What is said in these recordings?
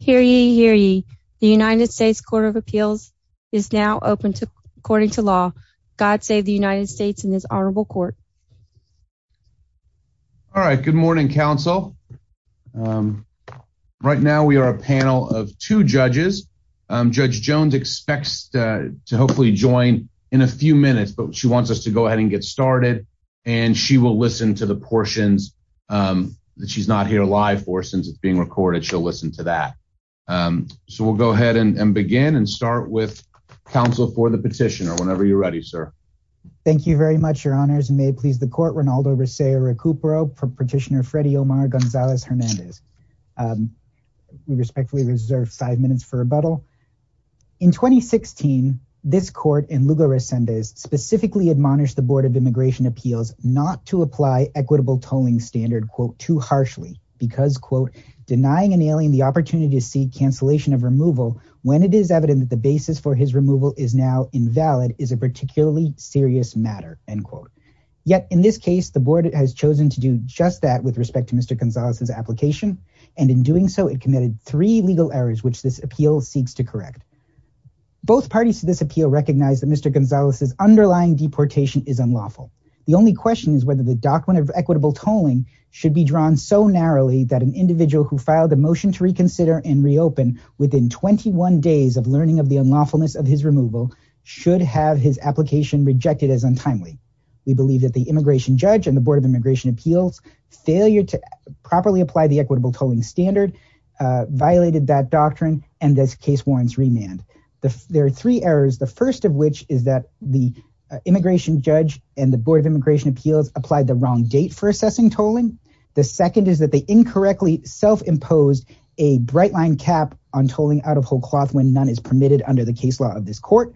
Hear ye, hear ye. The United States Court of Appeals is now open according to law. God save the United States and this honorable court. All right. Good morning, counsel. Right now we are a panel of two judges. Judge Jones expects to hopefully join in a few minutes, but she wants us to go ahead and get started and she will listen to the portions that she's not here live for since it's being recorded. But she'll listen to that. So we'll go ahead and begin and start with counsel for the petitioner whenever you're ready, sir. Thank you very much, your honors. And may it please the court, Reynaldo Resaya Recupero for petitioner Freddy Omar Gonzalez Hernandez. We respectfully reserve five minutes for rebuttal. In 2016, this court in Lugo Resendez specifically admonished the Board of Immigration Appeals not to apply equitable tolling standard quote, too harshly because quote, denying an alien the opportunity to see cancellation of removal when it is evident that the basis for his removal is now invalid is a particularly serious matter, end quote. Yet in this case, the board has chosen to do just that with respect to Mr. Gonzalez's application. And in doing so, it committed three legal errors, which this appeal seeks to correct. Both parties to this appeal recognize that Mr. Gonzalez's underlying deportation is unlawful. The only question is whether the document of equitable tolling should be drawn so narrowly that an individual who filed a motion to reconsider and reopen within 21 days of learning of the unlawfulness of his removal should have his application rejected as untimely. We believe that the immigration judge and the Board of Immigration Appeals failure to properly apply the equitable tolling standard violated that doctrine. And this case warrants remand. There are three errors. The first of which is that the immigration judge and the Board of Immigration Appeals applied the wrong date for assessing tolling. The second is that they incorrectly self-imposed a bright line cap on tolling out of whole cloth when none is permitted under the case law of this court.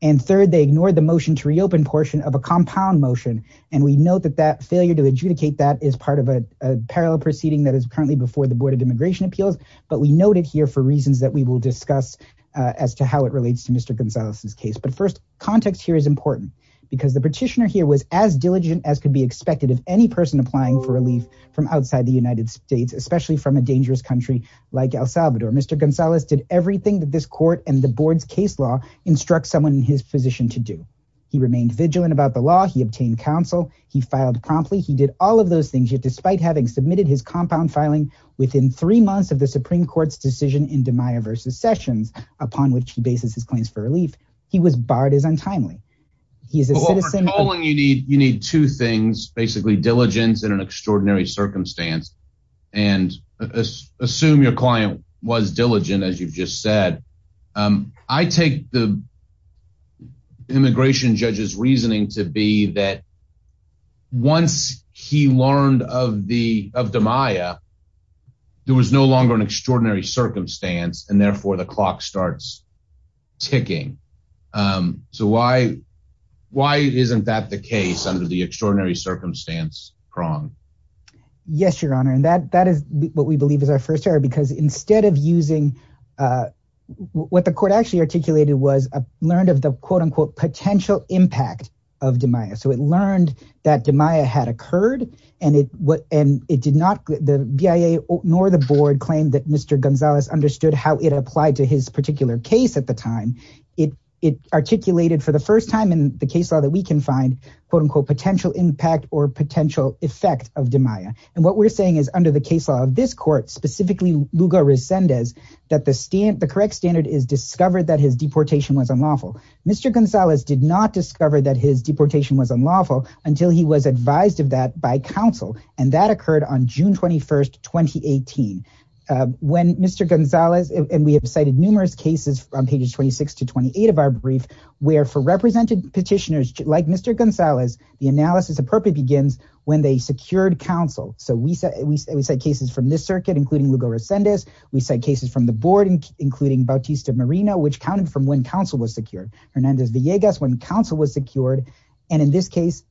And third, they ignored the motion to reopen portion of a compound motion. And we know that that failure to adjudicate that is part of a parallel proceeding that is currently before the Board of Immigration Appeals. But we noted here for reasons that we will discuss as to how it relates to Mr. Gonzalez's case. But first, context here is important because the petitioner here was as diligent as could be expected of any person applying for relief from outside the United States, especially from a dangerous country like El Salvador. Mr. Gonzalez did everything that this court and the board's case law instructs someone in his position to do. He remained vigilant about the law. He obtained counsel. He filed promptly. He did all of those things yet despite having submitted his compound filing within three months of the Supreme Court's decision in DiMaio versus Sessions, upon which he bases his claims for relief, he was barred as untimely. He is a citizen. For tolling, you need two things, basically diligence and an extraordinary circumstance. And assume your client was diligent, as you've just said. I take the immigration judge's reasoning to be that once he learned of DiMaio, there was no longer an extraordinary circumstance and therefore the clock starts ticking. So why isn't that the case under the extraordinary circumstance prong? Yes, Your Honor. And that is what we believe is our first error because instead of using what the court actually articulated was learned of the quote unquote potential impact of DiMaio. So it learned that DiMaio had occurred and it did not, the BIA nor the board claimed that Mr. Gonzalez understood how it applied to his particular case at the time. It articulated for the first time in the case law that we can find quote unquote potential impact or potential effect of DiMaio. And what we're saying is under the case law of this court, specifically Lugo Resendez, that the correct standard is discovered that his deportation was unlawful. Mr. Gonzalez did not discover that his deportation was unlawful until he was advised of that by counsel. And that occurred on June 21st, 2018. When Mr. Gonzalez, and we have cited numerous cases on pages 26 to 28 of our brief, where for represented petitioners like Mr. Gonzalez, the analysis appropriately begins when they secured counsel. So we said, we said cases from this circuit, including Lugo Resendez. We said cases from the board, including Bautista Marino, which counted from when counsel was secured. Hernandez Villegas, when counsel was secured. And in this case,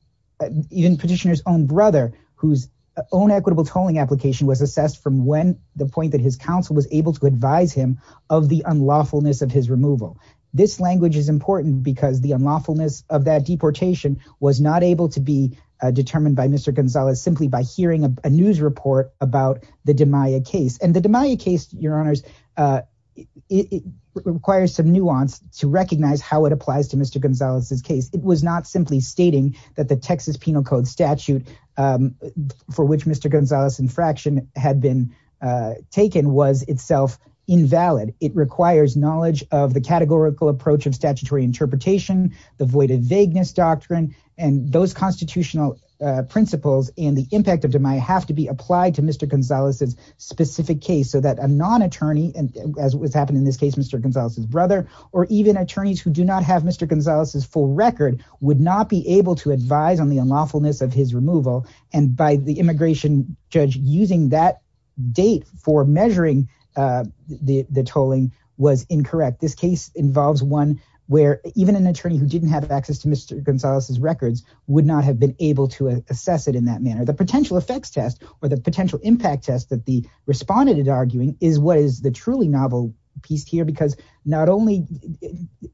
even petitioner's own brother, whose own equitable tolling application was assessed from when the point that his counsel was able to advise him of the unlawfulness of his removal. This language is important because the unlawfulness of that deportation was not able to be determined by Mr. Gonzalez simply by hearing a news report about the DiMaio case. And the DiMaio case, your honors, it requires some nuance to recognize how it applies to Mr. Gonzalez's case. It was not simply stating that the Texas Penal Code statute for which Mr. Gonzalez's infraction had been taken was itself invalid. It requires knowledge of the categorical approach of statutory interpretation, the voided vagueness doctrine and those constitutional principles and the impact of DiMaio have to be applied to Mr. Gonzalez's specific case so that a non-attorney, and as was happening in this case, Mr. Gonzalez's brother, or even attorneys who do not have Mr. Gonzalez's full record would not be able to advise on the unlawfulness of his removal. And by the immigration judge using that date for measuring the tolling was incorrect. This case involves one where even an attorney who didn't have access to Mr. Gonzalez's records would not have been able to assess it in that manner. The potential effects test or the potential impact test that the respondent is arguing is what is the truly novel piece here because not only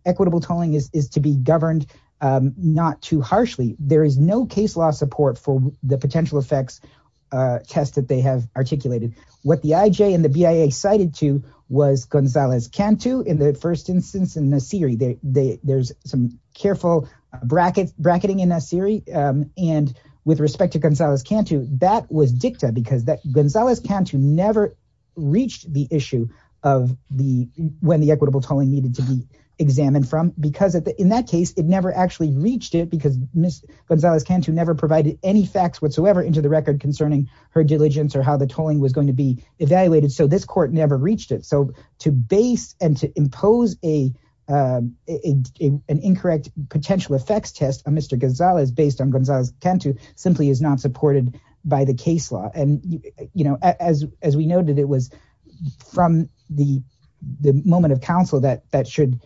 equitable tolling is to be governed not too harshly, there is no case law support for the potential effects test that they have articulated. What the IJ and the BIA cited to was Gonzalez-Cantu in the first instance in Nasiri. There's some careful bracketing in Nasiri. And with respect to Gonzalez-Cantu, that was dicta because Gonzalez-Cantu never reached the issue of when the equitable tolling needed to be examined from because in that case, it never actually reached it because Ms. Gonzalez-Cantu never provided any facts whatsoever into the record concerning her diligence or how the tolling was going to be evaluated. So this court never reached it. So to base and to impose an incorrect potential effects test on Mr. Gonzalez based on Gonzalez-Cantu simply is not supported by the case law. And as we noted, it was from the moment of counsel that should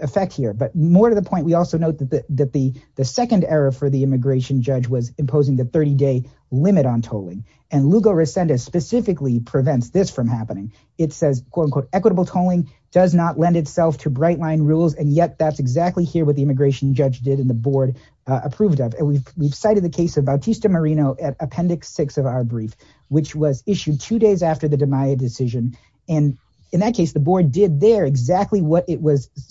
affect here. But more to the point, we also note that the second error for the immigration judge was imposing the 30-day limit on tolling. And Lugo-Racenda specifically prevents this from happening. It says, quote, unquote, equitable tolling does not lend itself to bright line rules. And yet that's exactly here what the immigration judge did and the board approved of. And we've cited the case of Bautista-Marino at Appendix 6 of our brief, which was issued two days after the DeMaia decision. And in that case, the board did there exactly what it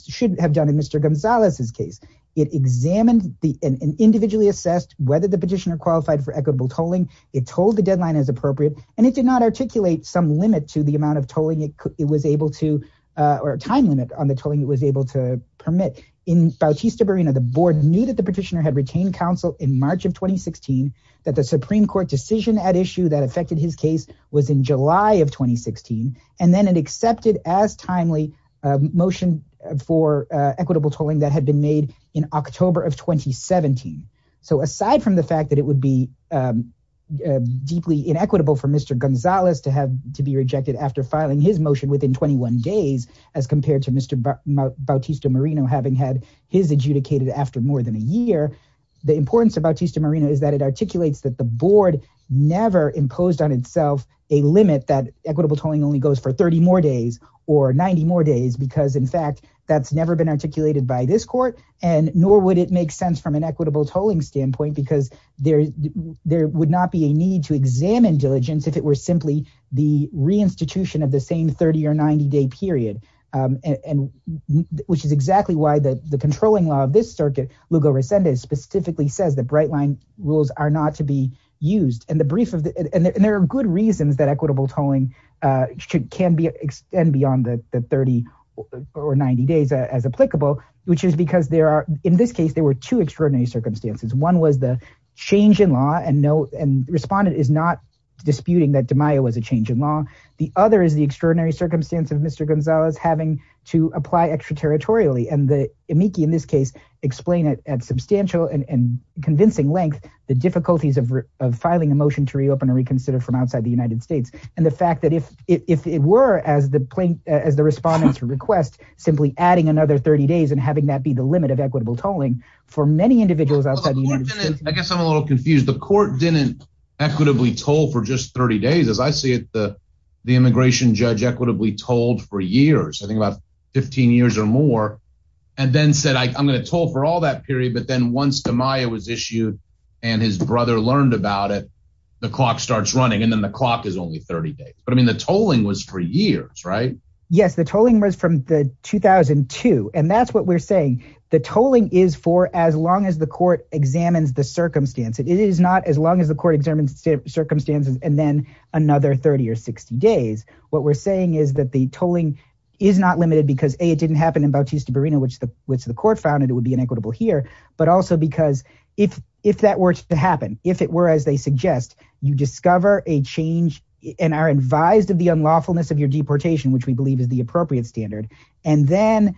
should have done in Mr. Gonzalez's case. It examined and individually assessed whether the petitioner qualified for equitable tolling. It told the deadline as appropriate, and it did not articulate some limit to the amount of tolling it was able to or time limit on the tolling it was able to permit. In Bautista-Marino, the board knew that the petitioner had retained counsel in March of 2016, that the Supreme Court decision at issue that affected his case was in July of 2016. And then it accepted as timely motion for equitable tolling that had been made in October of 2017. So aside from the fact that it would be deeply inequitable for Mr. Gonzalez to have to be rejected after filing his motion within 21 days, as compared to Mr. Bautista-Marino having had his adjudicated after more than a year, the importance of Bautista-Marino is that it articulates that the board never imposed on itself a limit that equitable tolling only goes for 30 more days or 90 more days, because in fact, that's never been articulated by this court. And nor would it make sense from an equitable tolling standpoint, because there would not be a need to examine diligence if it were simply the reinstitution of the same 30 or 90 day period, which is exactly why the controlling law of this circuit, Lugo Resende, specifically says that bright line rules are not to be used. And there are good reasons that equitable tolling can extend beyond the 30 or 90 days as applicable, which is because there are, in this case, there were two extraordinary circumstances. One was the change in law and respondent is not disputing that DiMaio was a change in law. The other is the extraordinary circumstance of Mr. Gonzalez having to apply extraterritorially. And the amici in this case explain it at substantial and convincing length, the difficulties of filing a motion to reopen and reconsider from outside the United States. And the fact that if it were as the plaintiff, as the respondents request, simply adding another 30 days and having that be the limit of equitable tolling for many individuals outside, I guess I'm a little confused. The court didn't equitably toll for just 30 days, as I see it, the immigration judge equitably told for years, I think about 15 years or more, and then said, I'm going to toll for all that period. But then once DiMaio was issued and his brother learned about it, the clock starts running and then the clock is only 30 days. But I mean, the tolling was for years, right? Yes, the tolling was from the 2002. And that's what we're saying. The tolling is for as long as the court examines the circumstance. It is not as long as the court examines the circumstances and then another 30 or 60 days. What we're saying is that the tolling is not limited because it didn't happen in Bautista Barino, which the which the court found it would be inequitable here, but also because if if that were to happen, if it were, as they suggest, you discover a change and are advised of the unlawfulness of your deportation, which we believe is the appropriate standard. And then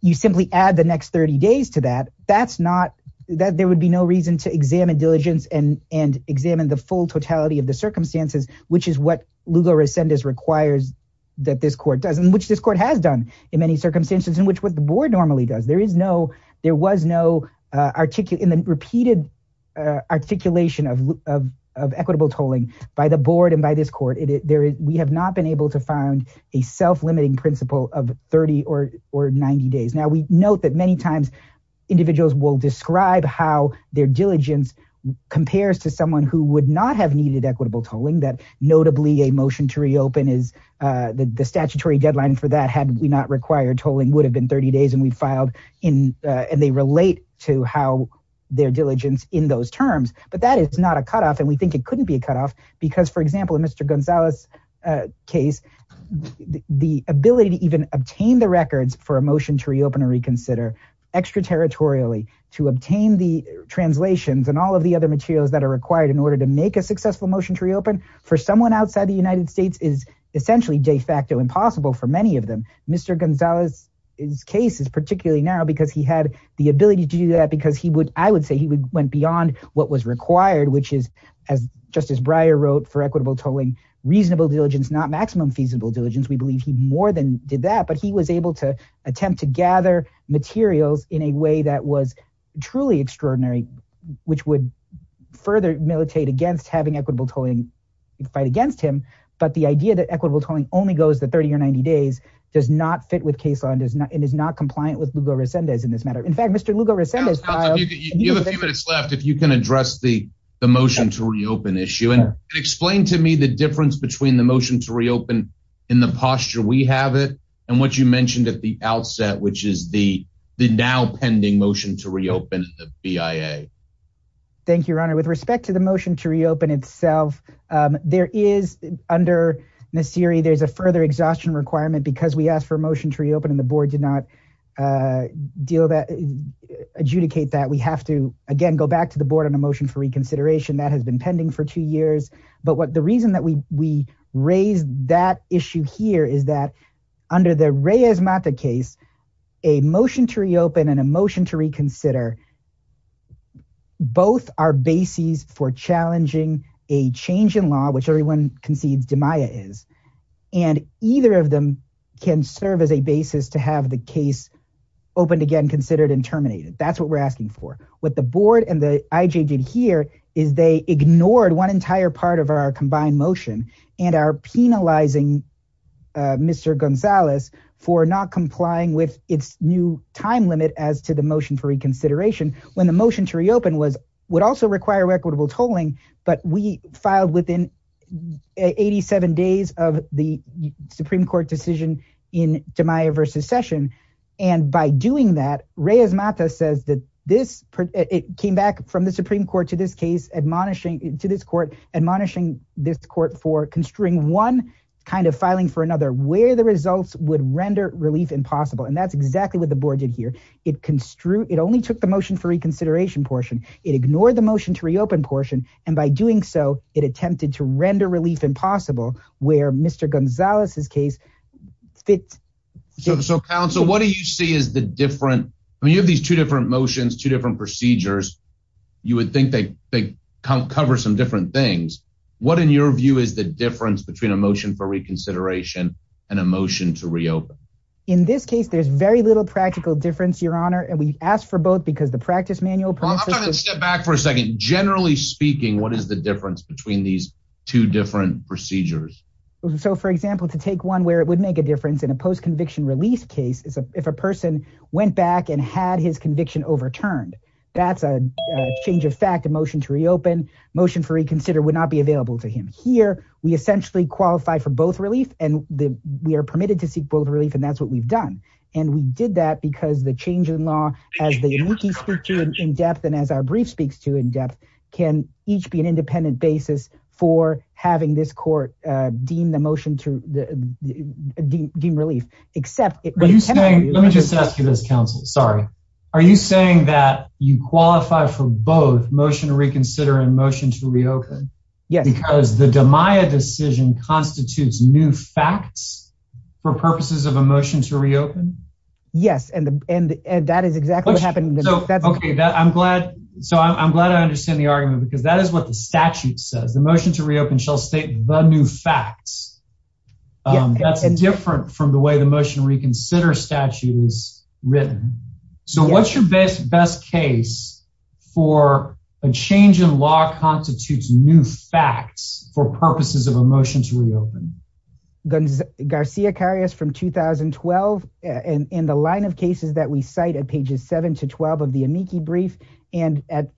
you simply add the next 30 days to that. That's not that there would be no reason to examine diligence and and examine the full totality of the circumstances, which is what Lugo Resendez requires that this court doesn't, which this court has done in many circumstances in which what the board normally does. There is no there was no articulate in the repeated articulation of equitable tolling by the board and by this court. We have not been able to find a self-limiting principle of 30 or 90 days. Now, we note that many times individuals will describe how their diligence compares to someone who would not have needed equitable tolling. That notably a motion to reopen is the statutory deadline for that had we not required tolling would have been 30 days and we filed in and they relate to how their diligence in those terms. But that is not a cutoff. And we think it couldn't be a cutoff because, for example, in Mr. Gonzalez case, the ability to even obtain the records for a motion to reopen or reconsider extraterritorially to obtain the translations and all of the other materials that are required in order to make a successful motion to reopen for someone outside the United States is essentially de facto impossible for many of them. Mr. Gonzalez's case is particularly now because he had the ability to do that because he would I would say he went beyond what was required, which is as Justice Breyer wrote for equitable tolling, reasonable diligence, not maximum feasible diligence. We believe he more than did that, but he was able to attempt to gather materials in a way that was truly extraordinary, which would further militate against having equitable tolling fight against him. But the idea that equitable tolling only goes to 30 or 90 days does not fit with case law and does not and is not compliant with Lugo Resendez in this matter. In fact, Mr. Lugo Resendez. You have a few minutes left if you can address the the motion to reopen issue and explain to me the difference between the motion to reopen in the posture we have it and what you mentioned at the outset, which is the the now pending motion to reopen the BIA. Thank you, Your Honor. With respect to the motion to reopen itself, there is under Nassiri, there's a further exhaustion requirement because we asked for a motion to reopen and the board did not deal that adjudicate that we have to, again, go back to the board on a motion for reconsideration that has been pending for two years. But what the reason that we we raised that issue here is that under the Reyes-Mata case, a motion to reopen and a motion to reconsider. Both are basis for challenging a change in law, which everyone concedes to Maya is, and either of them can serve as a basis to have the case opened again, considered and terminated. That's what we're asking for. What the board and the IJ did here is they ignored one entire part of our combined motion and are penalizing Mr. Gonzalez for not complying with its new time limit as to the motion for reconsideration when the motion to reopen was would also require equitable tolling. But we filed within 87 days of the Supreme Court decision in to Maya versus session. And by doing that, Reyes-Mata says that this came back from the Supreme Court to this case, admonishing to this court, admonishing this court for construing one kind of filing for another where the results would render relief impossible. And that's exactly what the board did here. It construed it only took the motion for reconsideration portion. It ignored the motion to reopen portion. And by doing so, it attempted to render relief impossible where Mr. Gonzalez's case fit. So, counsel, what do you see is the different? I mean, you have these two different motions, two different procedures. You would think they cover some different things. What, in your view, is the difference between a motion for reconsideration and a motion to reopen? In this case, there's very little practical difference, your honor. And we asked for both because the practice manual. I'm going to step back for a second. Generally speaking, what is the difference between these two different procedures? So, for example, to take one where it would make a difference in a post conviction release case is if a person went back and had his conviction overturned. That's a change of fact. A motion to reopen motion for reconsider. Would not be available to him here. We essentially qualify for both relief and we are permitted to seek both relief. And that's what we've done. And we did that because the change in law as they speak to in depth and as our brief speaks to in depth can each be an independent basis for having this court deem the motion to deem relief. Except let me just ask you this, counsel. Sorry. Are you saying that you qualify for both motion to reconsider and motion to reopen? Yes, because the decision constitutes new facts for purposes of a motion to reopen. Yes. And that is exactly what happened. OK, I'm glad. So I'm glad I understand the argument, because that is what the statute says. The motion to reopen shall state the new facts. That's different from the way the motion reconsider statute is written. So what's your best best case for a change in law constitutes new facts for purposes of a motion to reopen? Garcia Carias from 2012 and in the line of cases that we cite at pages seven to 12 of the amici brief and at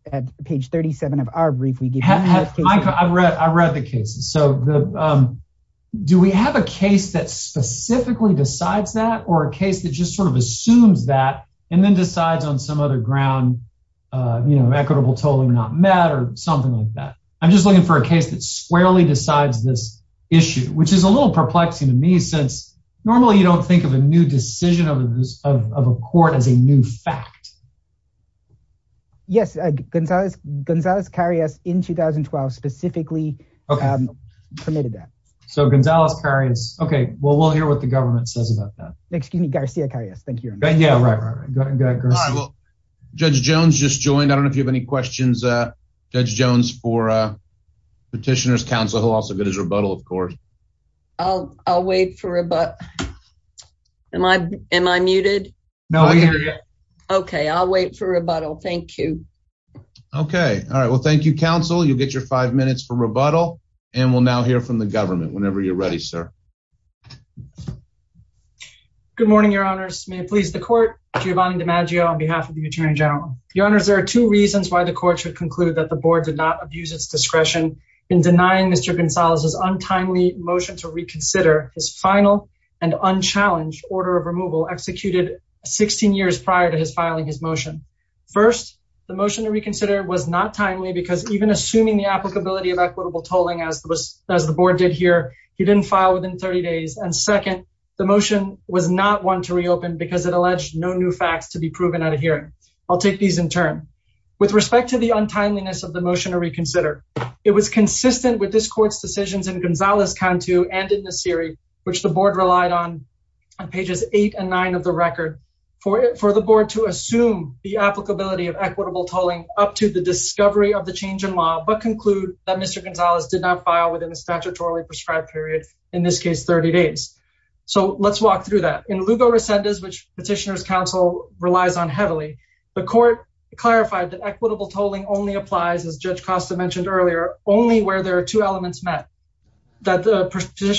page 37 of our brief, we have I've read I read the cases. So do we have a case that specifically decides that or a case that just sort of assumes that and then decides on some other ground, you know, equitable tolling not matter or something like that? I'm just looking for a case that squarely decides this issue, which is a little perplexing to me, since normally you don't think of a new decision of a court as a new fact. Yes, Gonzalez, Gonzalez Carias in 2012 specifically permitted that. So Gonzalez Carias. OK, well, we'll hear what the government says about that. Excuse me, Garcia Carias. Thank you. Yeah, right, right, right. Go ahead, go ahead. All right. Well, Judge Jones just joined. I don't know if you have any questions, Judge Jones, for petitioner's counsel, who also good as rebuttal, of course. Oh, I'll wait for a but am I am I muted? No. OK, I'll wait for rebuttal. Thank you. OK. All right. Well, thank you, counsel. You'll get your five minutes for rebuttal and we'll now hear from the government whenever you're ready, sir. Good morning, Your Honors. May it please the court, Giovanni DiMaggio on behalf of the Attorney General. Your Honors, there are two reasons why the court should conclude that the board did not abuse its discretion in denying Mr. Gonzalez's untimely motion to reconsider his final and unchallenged order of removal executed 16 years prior to his filing his motion. First, the motion to reconsider was not timely because even assuming the applicability of equitable tolling as the board did here, he didn't file within 30 days. And second, the motion was not one to reopen because it alleged no new facts to be proven at a hearing. I'll take these in turn. With respect to the untimeliness of the motion to reconsider, it was consistent with this court's decisions in Gonzalez-Cantu and in Nassiri, which the board relied on on pages eight and nine of the record for the board to assume the applicability of Mr. Gonzalez did not file within the statutorily prescribed period, in this case, 30 days. So let's walk through that. In Lugo Rescindas, which Petitioners Council relies on heavily, the court clarified that equitable tolling only applies, as Judge Costa mentioned earlier, only where there are two elements met, that the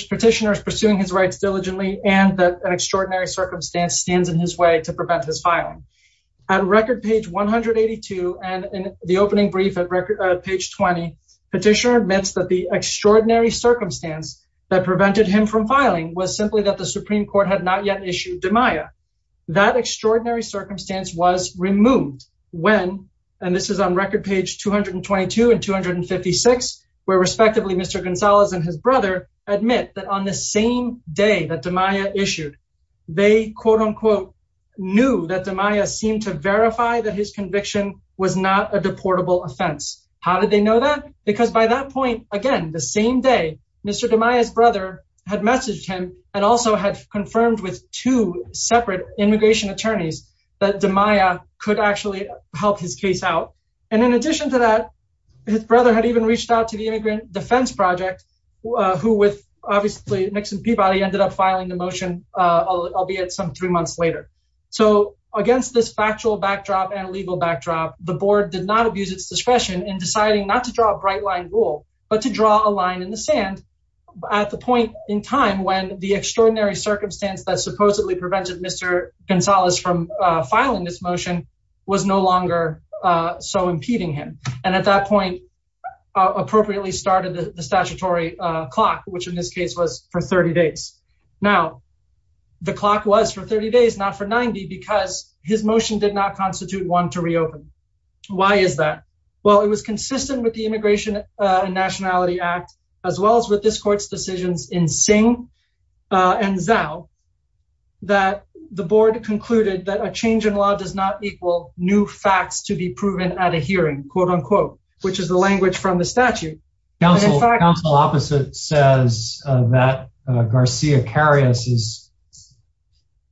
petitioner is pursuing his rights diligently and that an extraordinary circumstance stands in his way to prevent his filing. At record page 182 and in the opening brief at record page 20, Petitioner admits that the extraordinary circumstance that prevented him from filing was simply that the Supreme Court had not yet issued demaia. That extraordinary circumstance was removed when, and this is on record page 222 and 256, where respectively, Mr. Gonzalez and his brother admit that on the same day that demaia issued, they, quote demaia, seemed to verify that his conviction was not a deportable offense. How did they know that? Because by that point, again, the same day, Mr. Demaia's brother had messaged him and also had confirmed with two separate immigration attorneys that demaia could actually help his case out. And in addition to that, his brother had even reached out to the Immigrant Defense Project, who with obviously Nixon Peabody ended up filing the motion, albeit some three months later. So against this factual backdrop and legal backdrop, the board did not abuse its discretion in deciding not to draw a bright line rule, but to draw a line in the sand at the point in time when the extraordinary circumstance that supposedly prevented Mr. Gonzalez from filing this motion was no longer so impeding him. And at that point, appropriately started the statutory clock, which in this case was for 30 days. Now, the clock was for 30 days, not for 90, because his motion did not constitute one to reopen. Why is that? Well, it was consistent with the Immigration and Nationality Act, as well as with this court's decisions in Singh and Zhao, that the board concluded that a change in law does not equal new facts to be proven at a hearing, quote unquote, which is the language from the statute. Counsel opposite says that Garcia Carias is,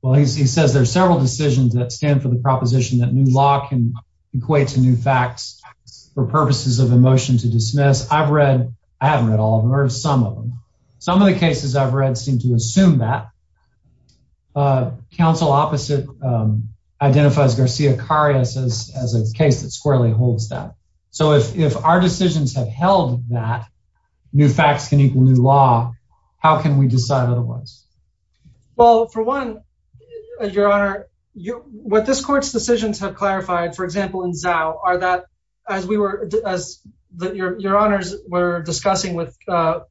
well, he says there are several decisions that stand for the proposition that new law can equate to new facts for purposes of a motion to dismiss. I've read, I haven't read all of them or some of them. Some of the cases I've read seem to assume that. Counsel opposite identifies Garcia Carias as a case that squarely holds that. So if our decisions have held that new facts can equal new law, how can we decide otherwise? Well, for one, your honor, what this court's decisions have clarified, for example, in Zhao, are that as we were, as your honors were discussing with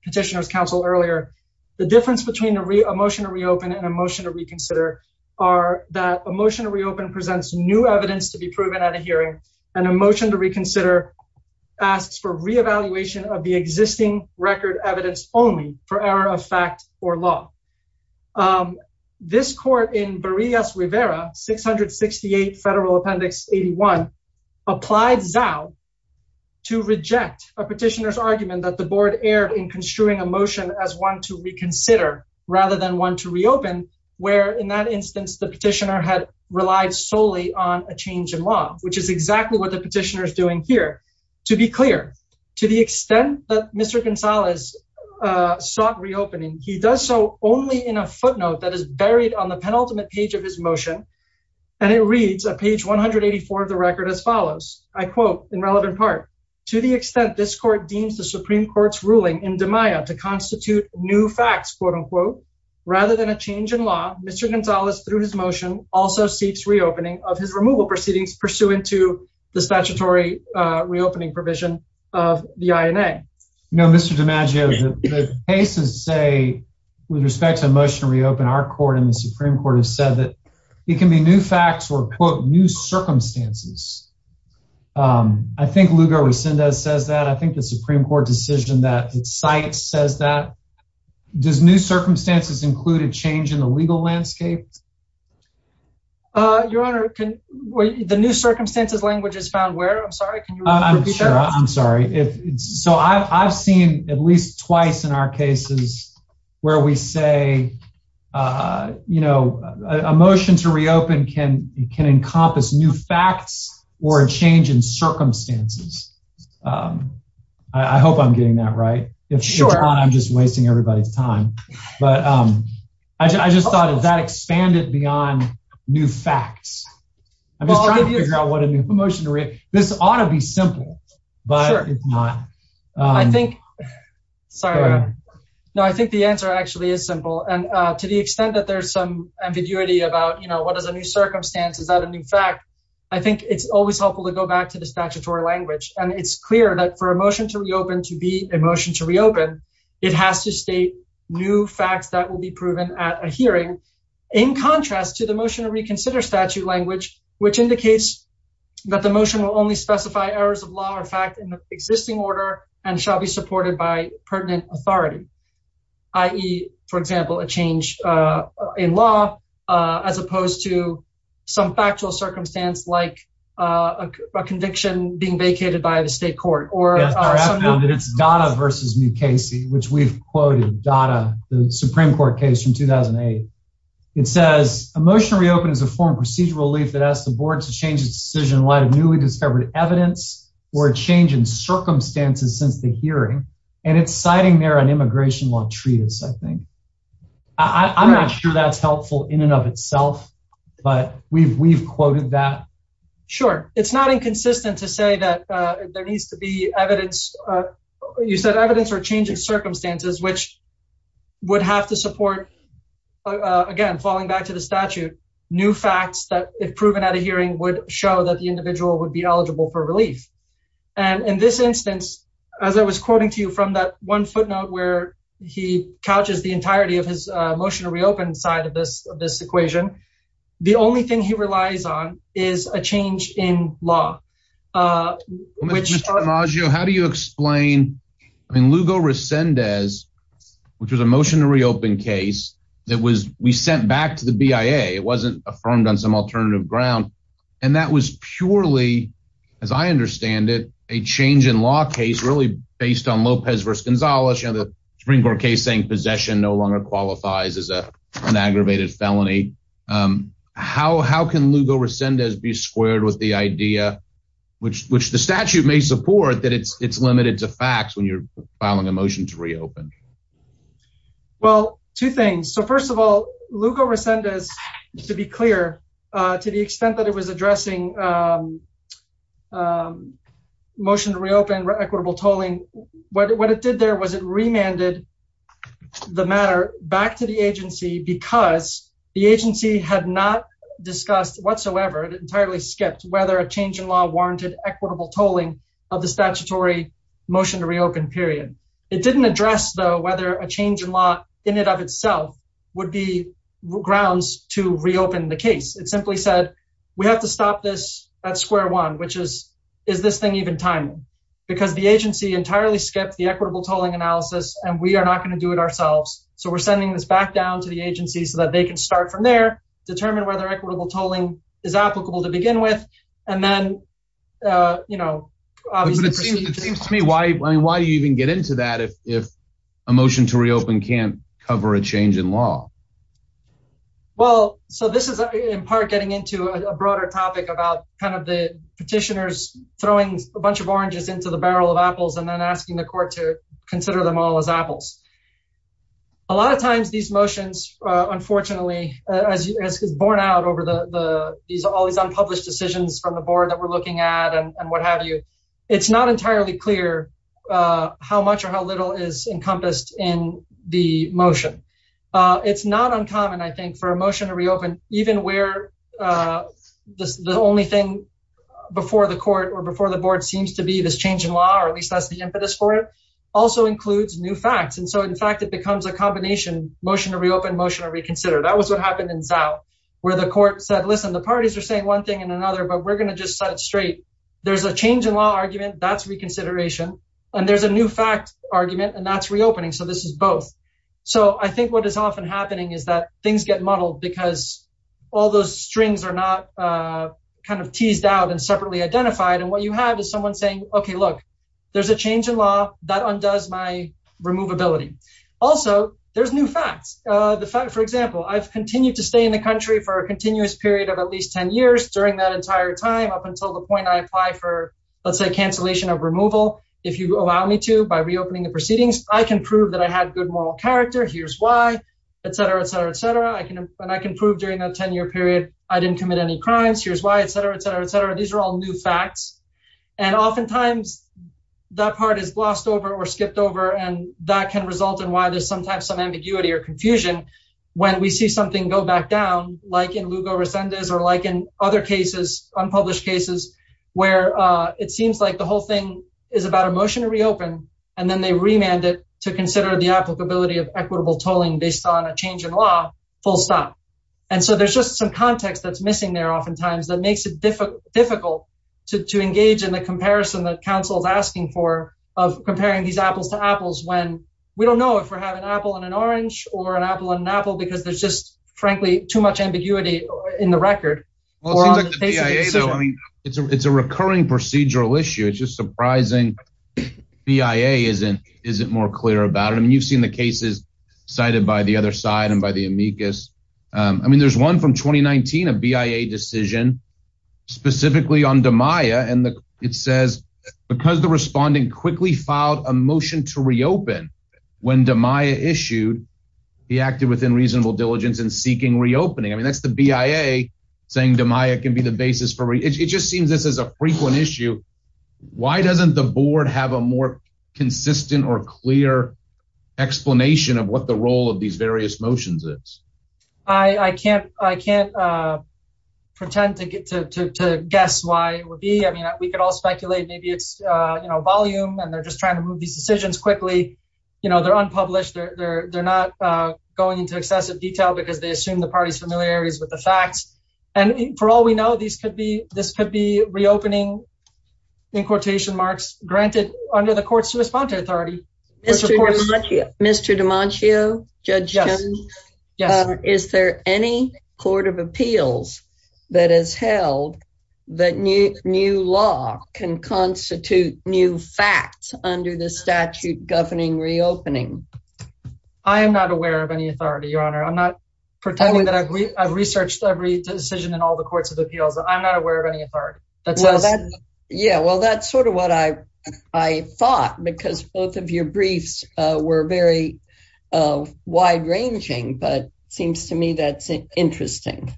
petitioner's counsel earlier, the difference between a motion to reopen and a motion to reconsider are that a motion to reopen presents new evidence to be proven at a hearing and a motion to reconsider asks for reevaluation of the existing record evidence only for error of fact or law. This court in Barillas Rivera, 668 Federal Appendix 81, applied Zhao to reject a petitioner's argument that the board erred in construing a motion as one to reconsider rather than one to reopen, where in that instance, the petitioner had relied solely on a motion to reconsider. So what are the petitioners doing here? To be clear, to the extent that Mr. Gonzalez sought reopening, he does so only in a footnote that is buried on the penultimate page of his motion. And it reads a page 184 of the record as follows, I quote in relevant part, to the extent this court deems the Supreme Court's ruling in demaio to constitute new facts, quote unquote. Rather than a change in law, Mr. Demagio seeks reopening of his removal proceedings pursuant to the statutory reopening provision of the INA. You know, Mr. Demagio, the cases say with respect to a motion to reopen, our court and the Supreme Court have said that it can be new facts or, quote, new circumstances. I think Lugar-Resendez says that. I think the Supreme Court decision that it cites says that. Does new circumstances include a change in the legal landscape? Your Honor, the new circumstances language is found where? I'm sorry. I'm sure. I'm sorry. So I've seen at least twice in our cases where we say, you know, a motion to reopen can can encompass new facts or a change in circumstances. I hope I'm getting that right. If not, I'm just wasting everybody's time. But I just thought of that expanded beyond new facts. I'm just trying to figure out what a new motion to reopen. This ought to be simple, but it's not. I think. Sorry. No, I think the answer actually is simple. And to the extent that there's some ambiguity about, you know, what is a new circumstance? Is that a new fact? I think it's always helpful to go back to the statutory language. And it's clear that for a motion to reopen to be a motion to reopen, it has to state new facts that will be proven at a hearing. In contrast to the motion to reconsider statute language, which indicates that the motion will only specify errors of law or fact in the existing order and shall be supported by pertinent authority, i.e., for example, a change in law as opposed to some factual circumstance like a conviction being vacated by the state court. Or that it's Dada versus Mukasey, which we've quoted Dada, the Supreme Court case from 2008. It says a motion to reopen is a form of procedural relief that asks the board to change its decision in light of newly discovered evidence or a change in circumstances since the hearing. And it's citing there an immigration law treatise, I think. I'm not sure that's helpful in and of itself, but we've we've quoted that. Sure. It's not inconsistent to say that there needs to be evidence, you said evidence or change in circumstances, which would have to support, again, falling back to the statute, new facts that if proven at a hearing would show that the individual would be eligible for relief. And in this instance, as I was quoting to you from that one footnote where he couches the entirety of his motion to reopen side of this of this equation, the only thing he has to say is a change in law, which how do you explain, I mean, Lugo Resendez, which was a motion to reopen case that was we sent back to the BIA. It wasn't affirmed on some alternative ground. And that was purely, as I understand it, a change in law case really based on Lopez versus Gonzalez, you know, the Supreme Court case saying possession no longer qualifies as an aggravated felony. How how can Lugo Resendez be squared with the idea which which the statute may support that it's it's limited to facts when you're filing a motion to reopen? Well, two things. So, first of all, Lugo Resendez, to be clear, to the extent that it was addressing motion to reopen equitable tolling, what it did there was it remanded the matter back to the agency because the agency had not discussed whatsoever and entirely skipped whether a change in law warranted equitable tolling of the statutory motion to reopen period. It didn't address, though, whether a change in law in and of itself would be grounds to reopen the case. It simply said we have to stop this at square one, which is is this thing even timely because the agency entirely skipped the equitable tolling analysis and we are not going to do it ourselves. So we're sending this back down to the agency so that they can start from there, determine whether equitable tolling is applicable to begin with. And then, you know, obviously, it seems to me, why, I mean, why do you even get into that if if a motion to reopen can't cover a change in law? Well, so this is in part getting into a broader topic about kind of the petitioners throwing a bunch of oranges into the barrel of apples and then asking the court to a lot of times these motions, unfortunately, as it's borne out over the the these are all these unpublished decisions from the board that we're looking at and what have you. It's not entirely clear how much or how little is encompassed in the motion. It's not uncommon, I think, for a motion to reopen, even where the only thing before the court or before the board seems to be this change in law, or at least that's the impetus for it, also includes new facts. And so, in fact, it becomes a combination motion to reopen, motion to reconsider. That was what happened in Zao, where the court said, listen, the parties are saying one thing and another, but we're going to just set it straight. There's a change in law argument. That's reconsideration. And there's a new fact argument. And that's reopening. So this is both. So I think what is often happening is that things get muddled because all those strings are not kind of teased out and separately identified. And what you have is someone saying, OK, look, there's a change in law that undoes my removability. Also, there's new facts. The fact, for example, I've continued to stay in the country for a continuous period of at least 10 years during that entire time, up until the point I apply for, let's say, cancellation of removal. If you allow me to, by reopening the proceedings, I can prove that I had good moral character. Here's why, et cetera, et cetera, et cetera. I can and I can prove during that 10 year period I didn't commit any crimes. Here's why, et cetera, et cetera, et cetera. These are all new facts. And oftentimes that part is glossed over or skipped over. And that can result in why there's sometimes some ambiguity or confusion when we see something go back down, like in Lugo Resendez or like in other cases, unpublished cases, where it seems like the whole thing is about a motion to reopen and then they remanded to consider the applicability of equitable tolling based on a change in law. Full stop. And so there's just some context that's missing there oftentimes that makes it difficult to engage in the comparison that counsel is asking for of comparing these apples to apples when we don't know if we're having an apple and an orange or an apple and an apple, because there's just, frankly, too much ambiguity in the record. Well, I mean, it's a recurring procedural issue. It's just surprising BIA isn't more clear about it. And you've seen the cases cited by the other side and by the amicus. I mean, there's one from 2019, a BIA decision specifically on Damiah. And it says because the responding quickly filed a motion to reopen when Damiah issued, he acted within reasonable diligence in seeking reopening. I mean, that's the BIA saying Damiah can be the basis for it just seems this is a frequent issue. Why doesn't the board have a more consistent or clear explanation of what the I can't I can't pretend to get to guess why it would be. I mean, we could all speculate. Maybe it's volume and they're just trying to move these decisions quickly. You know, they're unpublished. They're not going into excessive detail because they assume the party's familiarity is with the facts. And for all we know, these could be this could be reopening in quotation marks granted under the courts to respond to authority. Mr. DiManchio, judge, is there any court of appeals that has held that new law can constitute new facts under the statute governing reopening? I am not aware of any authority, your honor. I'm not pretending that I've researched every decision in all the courts of appeals. I'm not aware of any authority. Well, that's yeah, well, that's sort of what I I thought, because both of your briefs were very wide ranging. But it seems to me that's interesting.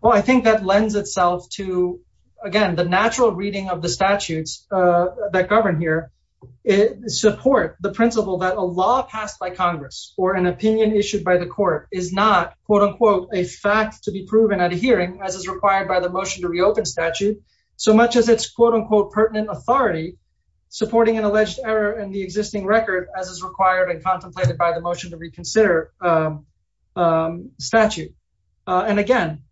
Well, I think that lends itself to, again, the natural reading of the statutes that govern here support the principle that a law passed by Congress or an opinion issued by the court is not, quote unquote, a fact to be proven at a hearing, as is required by the motion to reopen statute so much as it's, quote unquote, pertinent authority supporting an alleged error in the existing record, as is required and contemplated by the motion to reconsider statute. And again,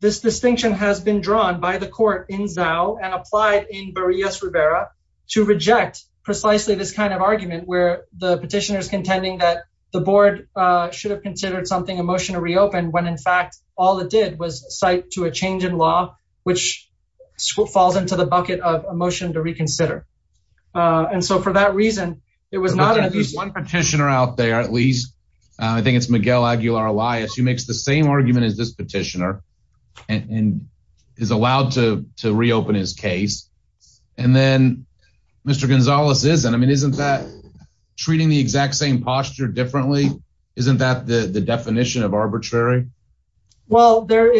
this distinction has been drawn by the court in Zao and applied in Barillas Rivera to reject precisely this kind of argument where the petitioners contending that the board should have considered something a motion to reopen when, in fact, all it did was cite to a change in law, which falls into the bucket of a motion to reconsider. And so for that reason, it was not at least one petitioner out there, at least I think it's Miguel Aguilar Elias, who makes the same argument as this petitioner and is allowed to reopen his case. And then, Mr. Gonzalez, isn't I mean, isn't that treating the exact same posture differently? Isn't that the definition of arbitrary? Well, there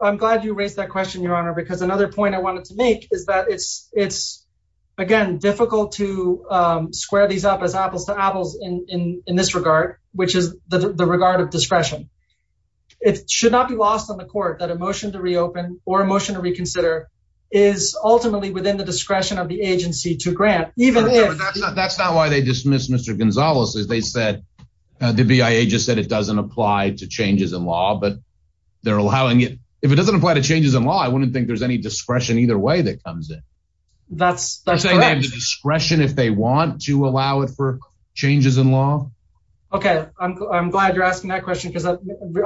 I'm glad you raised that question, Your Honor, because another point I wanted to make is that it's it's, again, difficult to square these up as apples to apples in this regard, which is the regard of discretion. It should not be lost on the court that a motion to reopen or a motion to reconsider is ultimately within the discretion of the agency to grant, even if that's not why they dismiss Mr. Gonzalez, as they said, the BIA just said it doesn't apply to changes in law. But they're allowing it if it doesn't apply to changes in law, I wouldn't think there's any discretion either way that comes in. That's that's discretion if they want to allow it for changes in law. OK, I'm glad you're asking that question because I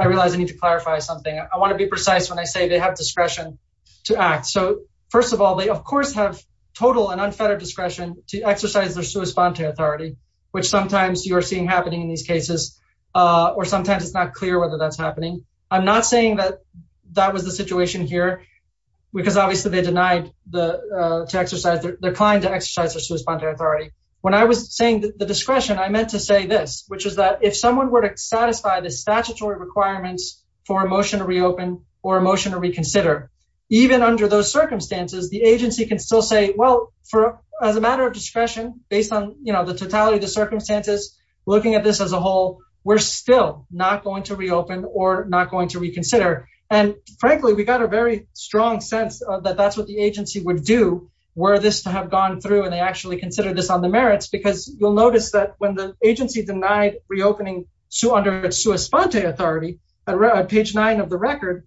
realize I need to clarify something. I want to be precise when I say they have discretion to act. So, first of all, they, of course, have total and unfettered discretion to exercise their sui sponte authority, which sometimes you are seeing happening in these cases, or I'm not saying that that was the situation here, because obviously they denied to exercise, declined to exercise their sui sponte authority. When I was saying the discretion, I meant to say this, which is that if someone were to satisfy the statutory requirements for a motion to reopen or a motion to reconsider, even under those circumstances, the agency can still say, well, as a matter of discretion, based on the totality of the circumstances, looking at this as a whole, we're still not going to reopen or not going to reconsider. And frankly, we got a very strong sense that that's what the agency would do were this to have gone through. And they actually consider this on the merits because you'll notice that when the agency denied reopening under its sui sponte authority at page nine of the record,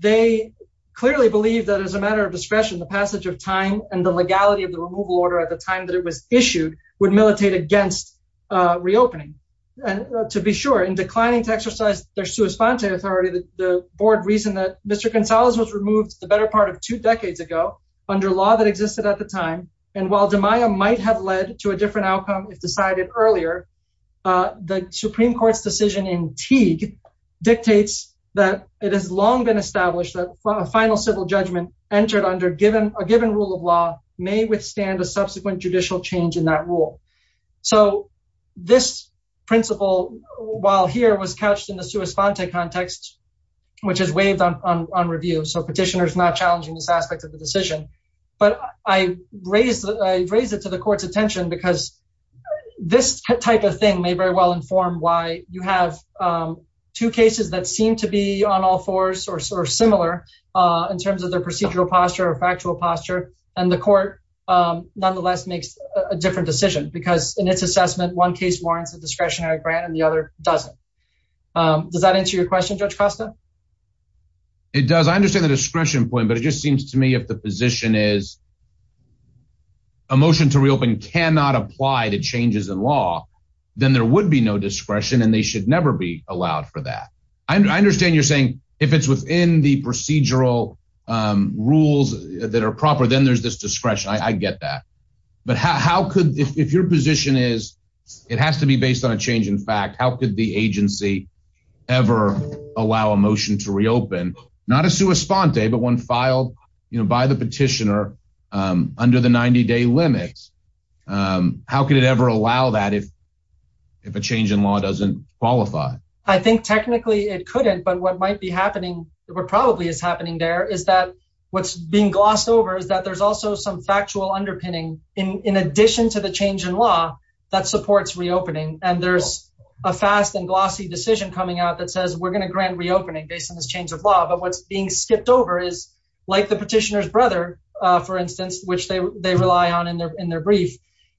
they clearly believe that as a matter of discretion, the passage of time and the legality of the removal order at the time that it was issued would militate against reopening. And to be sure, in declining to exercise their sui sponte authority, the board reason that Mr. Gonzalez was removed the better part of two decades ago under law that existed at the time. And while DiMaio might have led to a different outcome if decided earlier, the Supreme Court's decision in Teague dictates that it has long been established that final civil judgment entered under a given rule of law may withstand a subsequent judicial change in that rule. So this principle, while here was couched in the sui sponte context, which is waived on review. So petitioners not challenging this aspect of the decision. But I raise it to the court's attention because this type of thing may very well inform why you have two cases that seem to be on all fours or similar in terms of their different decision, because in its assessment, one case warrants a discretionary grant and the other doesn't. Does that answer your question, Judge Costa? It does, I understand the discretion point, but it just seems to me if the position is a motion to reopen cannot apply to changes in law, then there would be no discretion and they should never be allowed for that. I understand you're saying if it's within the procedural rules that are proper, then there's this discretion. I get that. But how could if your position is it has to be based on a change in fact, how could the agency ever allow a motion to reopen? Not a sui sponte, but one filed by the petitioner under the 90 day limits. How could it ever allow that if if a change in law doesn't qualify? I think technically it couldn't. But what might be happening or probably is happening there is that what's being glossed over is that there's also some factual underpinning in addition to the change in law that supports reopening. And there's a fast and glossy decision coming out that says we're going to grant reopening based on this change of law. But what's being skipped over is like the petitioner's brother, for instance, which they they rely on in their in their brief.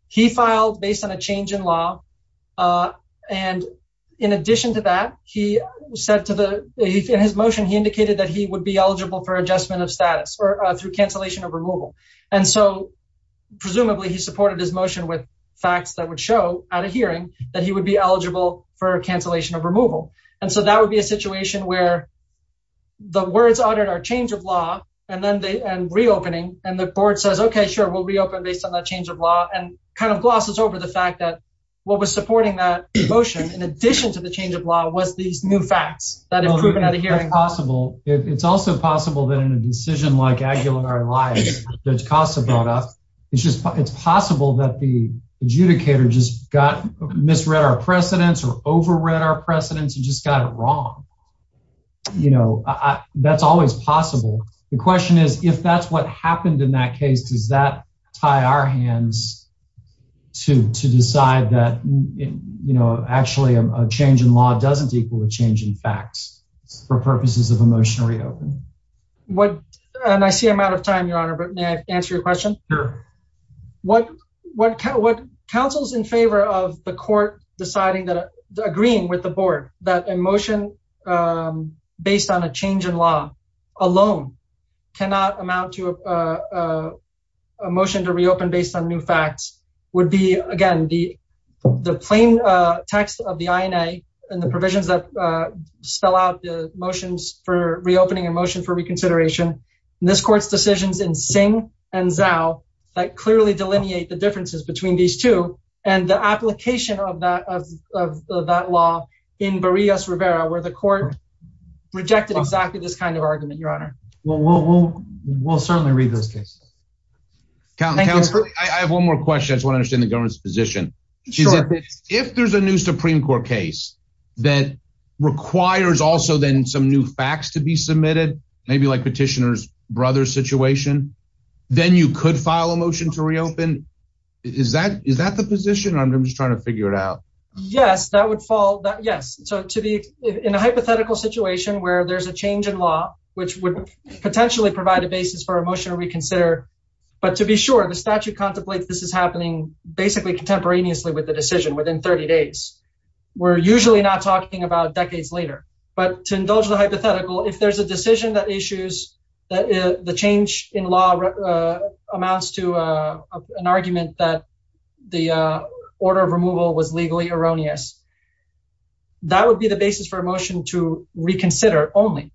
He filed based on a change in law. And in addition to that, he said to the in his motion, he indicated that he would be eligible for cancellation of removal. And so presumably he supported his motion with facts that would show at a hearing that he would be eligible for cancellation of removal. And so that would be a situation where the words on our change of law and then the and reopening and the board says, OK, sure, we'll reopen based on that change of law and kind of glosses over the fact that what was supporting that motion in addition to the change of law was these new facts that have proven out of hearing. It's also possible that in a decision like Aguilar-Liaz that CASA brought up, it's just it's possible that the adjudicator just got misread our precedents or overread our precedents and just got it wrong. You know, that's always possible. The question is, if that's what happened in that case, does that tie our hands to to decide that, you know, actually a change in law doesn't equal a change in facts for purposes of a motion to reopen? What and I see I'm out of time, Your Honor, but may I answer your question? Sure. What what what counsel's in favor of the court deciding that agreeing with the board that a motion based on a change in law alone cannot amount to a motion to reopen based on new facts would be, again, the the plain text of the INA and the provisions that spell out the motions for reopening a motion for reconsideration. This court's decisions in Singh and Zhao that clearly delineate the differences between these two and the application of that of that law in Barillas-Rivera, where the court rejected exactly this kind of argument, Your Honor. Well, we'll we'll certainly read those cases. Counselor, I have one more question. I want to understand the government's position. If there's a new Supreme Court case that requires also then some new facts to be submitted, maybe like petitioner's brother situation, then you could file a motion to reopen. Is that is that the position? I'm just trying to figure it out. Yes, that would fall. Yes. So to be in a hypothetical situation where there's a change in law which would potentially provide a basis for a motion to reconsider. But to be sure, the statute contemplates this is happening basically contemporaneously with the decision within 30 days. We're usually not talking about decades later. But to indulge the hypothetical, if there's a decision that issues that the change in law amounts to an argument that the order of removal was legally erroneous. That would be the basis for a motion to reconsider only.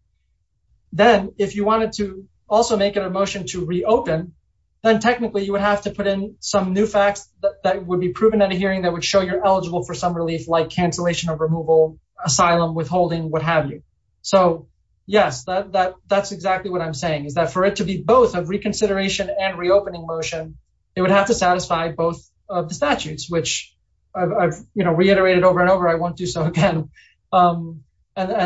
Then if you wanted to also make it a motion to reopen, then technically you would have to put in some new facts that would be proven at a hearing that would show you're eligible for some relief, like cancellation of removal, asylum, withholding, what have you. So, yes, that that's exactly what I'm saying, is that for it to be both of reconsideration and reopening motion, it would have to satisfy both of the statutes, which I've reiterated over and over. I won't do so again. And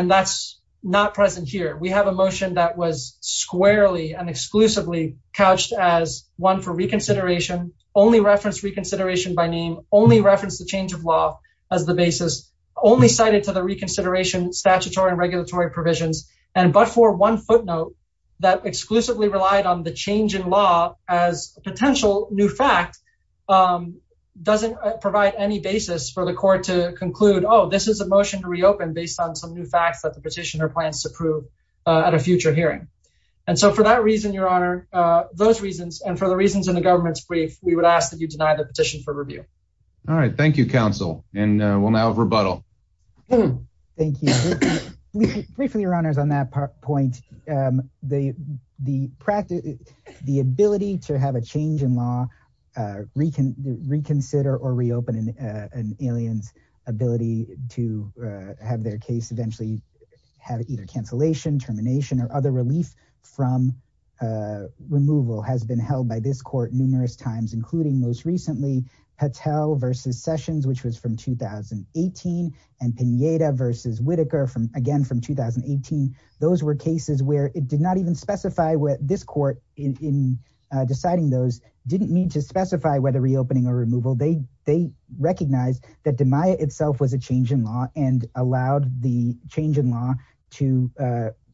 that's not present here. We have a motion that was squarely and exclusively couched as one for reconsideration, only reference reconsideration by name, only reference the change of law as the basis, only cited to the reconsideration statutory and regulatory provisions. And but for one footnote that exclusively relied on the change in law as a potential new fact doesn't provide any basis for the court to conclude, oh, this is a motion to reopen based on some new facts that the petitioner plans to prove at a future hearing. And so for that reason, your honor, those reasons and for the reasons in the government's brief, we would ask that you deny the petition for review. All right. Thank you, counsel. And we'll now rebuttal. Thank you. Briefly, your honors, on that point, the the practice, the ability to have a change in law, reconsider or reopen an alien's ability to have their case eventually have either cancellation, termination or other relief from removal has been held by this court numerous times, including most recently Patel versus Sessions, which was from 2018 and Pineda versus Whitaker from again from 2018. Those were cases where it did not even specify what this court in deciding those didn't need to specify whether reopening or removal. They they recognized that the Maya itself was a change in law and allowed the change in law to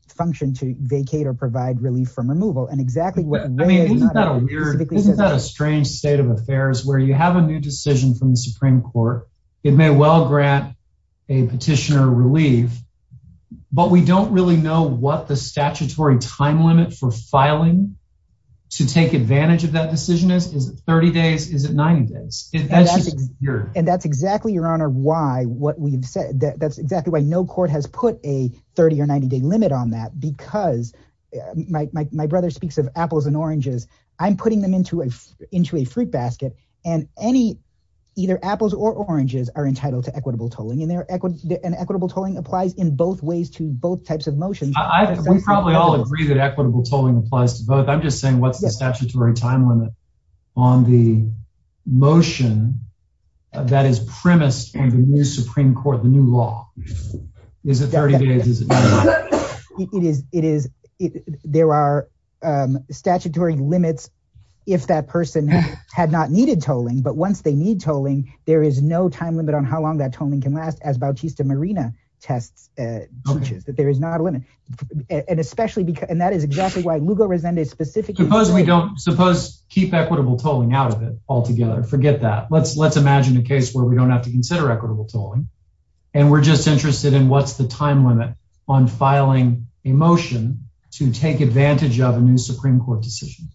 function, to vacate or provide relief from removal. And exactly what I mean, isn't that a weird, isn't that a strange state of affairs where you have a new decision from the Supreme Court? It may well grant a petitioner relief, but we don't really know what the statutory time limit for filing to take advantage of that decision is. Is it 30 days? Is it 90 days? And that's exactly your honor, why what we've said, that's exactly why no court has put a 30 or 90 day limit on that, because my brother speaks of apples and oranges. I'm putting them into a into a fruit basket and any either apples or oranges are entitled to equitable tolling in their equity and equitable tolling applies in both ways to both types of motions. We probably all agree that equitable tolling applies to both. I'm just saying, what's the statutory time limit on the motion that is premised in the new Supreme Court? The new law is a 30 day. It is. It is. There are statutory limits if that person had not needed tolling. But once they need tolling, there is no time limit on how long that tolling can last as Bautista Marina tests that there is not a limit. And especially because and that is exactly why Lugo Resende is specific. Suppose we don't suppose keep equitable tolling out of it altogether. Forget that. Let's let's imagine a case where we don't have to consider equitable tolling and we're just interested in what's the time limit on filing a motion to take advantage of a new Supreme Court decision.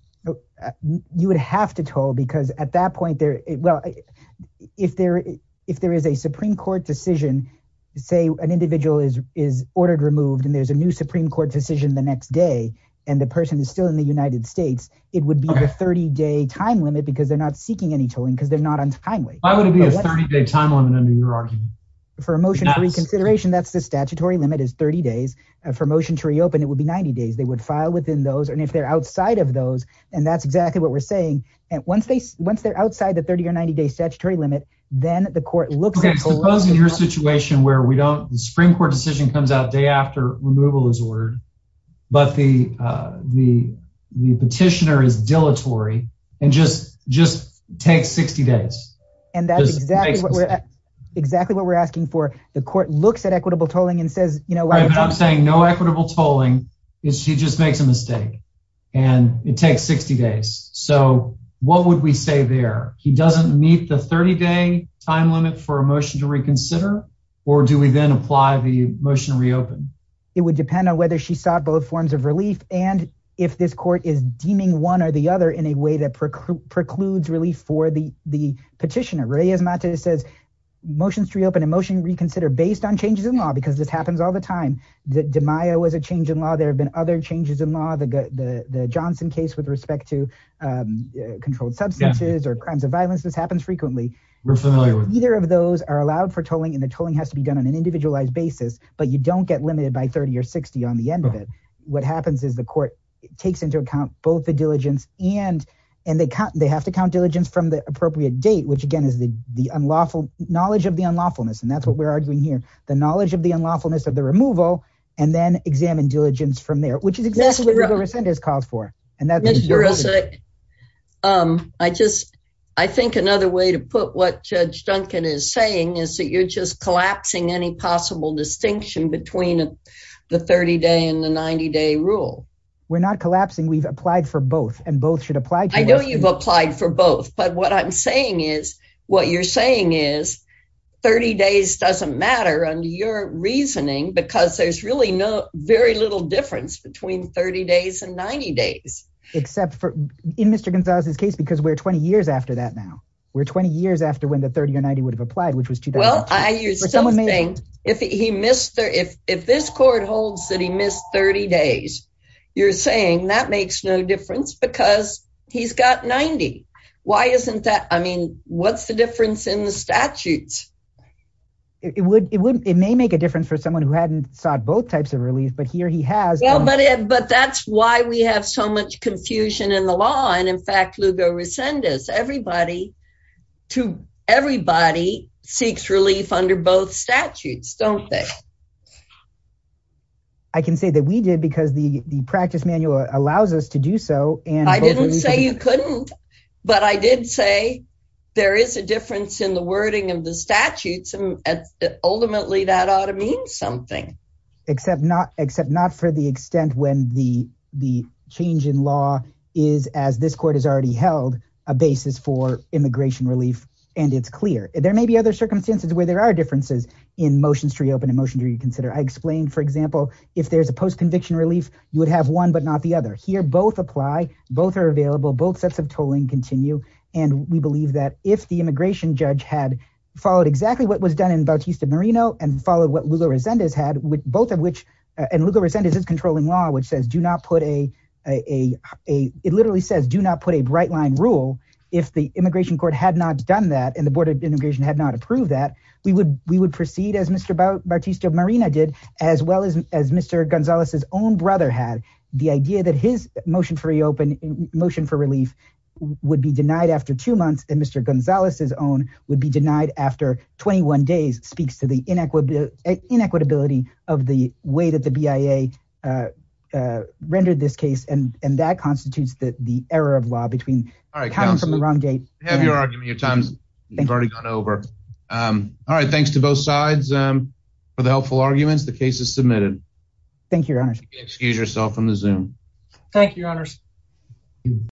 You would have to toll because at that point there, well, if there if there is a Supreme Court decision, say an individual is is ordered removed and there's a new Supreme Court decision the next day and the person is still in the United States, it would be a 30 day time limit because they're not seeking any tolling because they're not on time. Why would it be a 30 day time limit under your argument? For a motion of reconsideration, that's the statutory limit is 30 days for motion to reopen. It would be 90 days. They would file within those. And if they're outside of those, and that's exactly what we're saying. And once they once they're outside the 30 or 90 day statutory limit, then the court looks at your situation where we don't the Supreme Court decision comes out day after removal is ordered. But the the the petitioner is dilatory and just just take 60 days. And that's exactly what we're exactly what we're asking for. The court looks at equitable tolling and says, you know, I'm saying no equitable tolling is she just makes a mistake and it takes 60 days. So what would we say there? He doesn't meet the 30 day time limit for a motion to reconsider. Or do we then apply the motion to reopen? It would depend on whether she sought both forms of relief. And if this court is deeming one or the other in a way that precludes relief for the the petitioner, Reyes-Mates says motions to reopen a motion reconsider based on changes in law, because this happens all the time, that DiMaio was a change in law, there have been other changes in law, the the Johnson case with respect to controlled substances or crimes of violence. This happens frequently. We're familiar with either of those are allowed for tolling and the tolling has to be done on an individualized basis, but you don't get limited by 30 or 60 on the end of it. What happens is the court takes into account both the diligence and and they have to count diligence from the appropriate date, which, again, is the the unlawful knowledge of the unlawfulness. And that's what we're arguing here. The knowledge of the unlawfulness of the removal and then examine diligence from there, which is exactly what Rosenda has called for. And that is, I just I think another way to put what Judge Duncan is saying is that you're just collapsing any possible distinction between the 30 day and the 90 day rule. We're not collapsing. We've applied for both. And both should apply. I know you've applied for both. But what I'm saying is what you're saying is 30 days doesn't matter on your reasoning because there's really no very little difference between 30 days and 90 days. Except for in Mr. Gonzalez's case, because we're 20 years after that now. We're 20 years after when the 30 or 90 would have applied, which was well, I use something if he missed if if this court holds that he missed 30 days, you're saying that makes no difference because he's got 90. Why isn't that? I mean, what's the difference in the statutes? It would it would it may make a difference for someone who hadn't sought both types of relief. But here he has. But but that's why we have so much confusion in the law. And in fact, Lugo Resendez, everybody to everybody seeks relief under both statutes, don't they? I can say that we did because the the practice manual allows us to do so. And I didn't say you couldn't. But I did say there is a difference in the wording of the statutes and ultimately that ought to mean something. Except not except not for the extent when the the change in law is as this court has already held a basis for immigration relief. And it's clear there may be other circumstances where there are differences in motions to consider. I explained, for example, if there's a post conviction relief, you would have one but not the other here. Both apply. Both are available. Both sets of tolling continue. And we believe that if the immigration judge had followed exactly what was done in Bautista Marino and followed what Lugo Resendez had with both of which and Lugo Resendez is controlling law, which says do not put a a a it literally says do not put a bright line rule. If the immigration court had not done that and the Board of Immigration had not approved that, we would we would proceed as Mr. Bautista Marino did, as well as as Mr. Gonzalez's own brother had the idea that his motion for reopen motion for relief would be denied after two months. And Mr. Gonzalez's own would be denied after 21 days speaks to the inequity, inequitability of the way that the BIA rendered this case. And that constitutes the error of law between the wrong date, your argument, your time's up. You've already gone over. All right. Thanks to both sides for the helpful arguments. The case is submitted. Thank you. Your Honor. Excuse yourself from the Zoom. Thank you.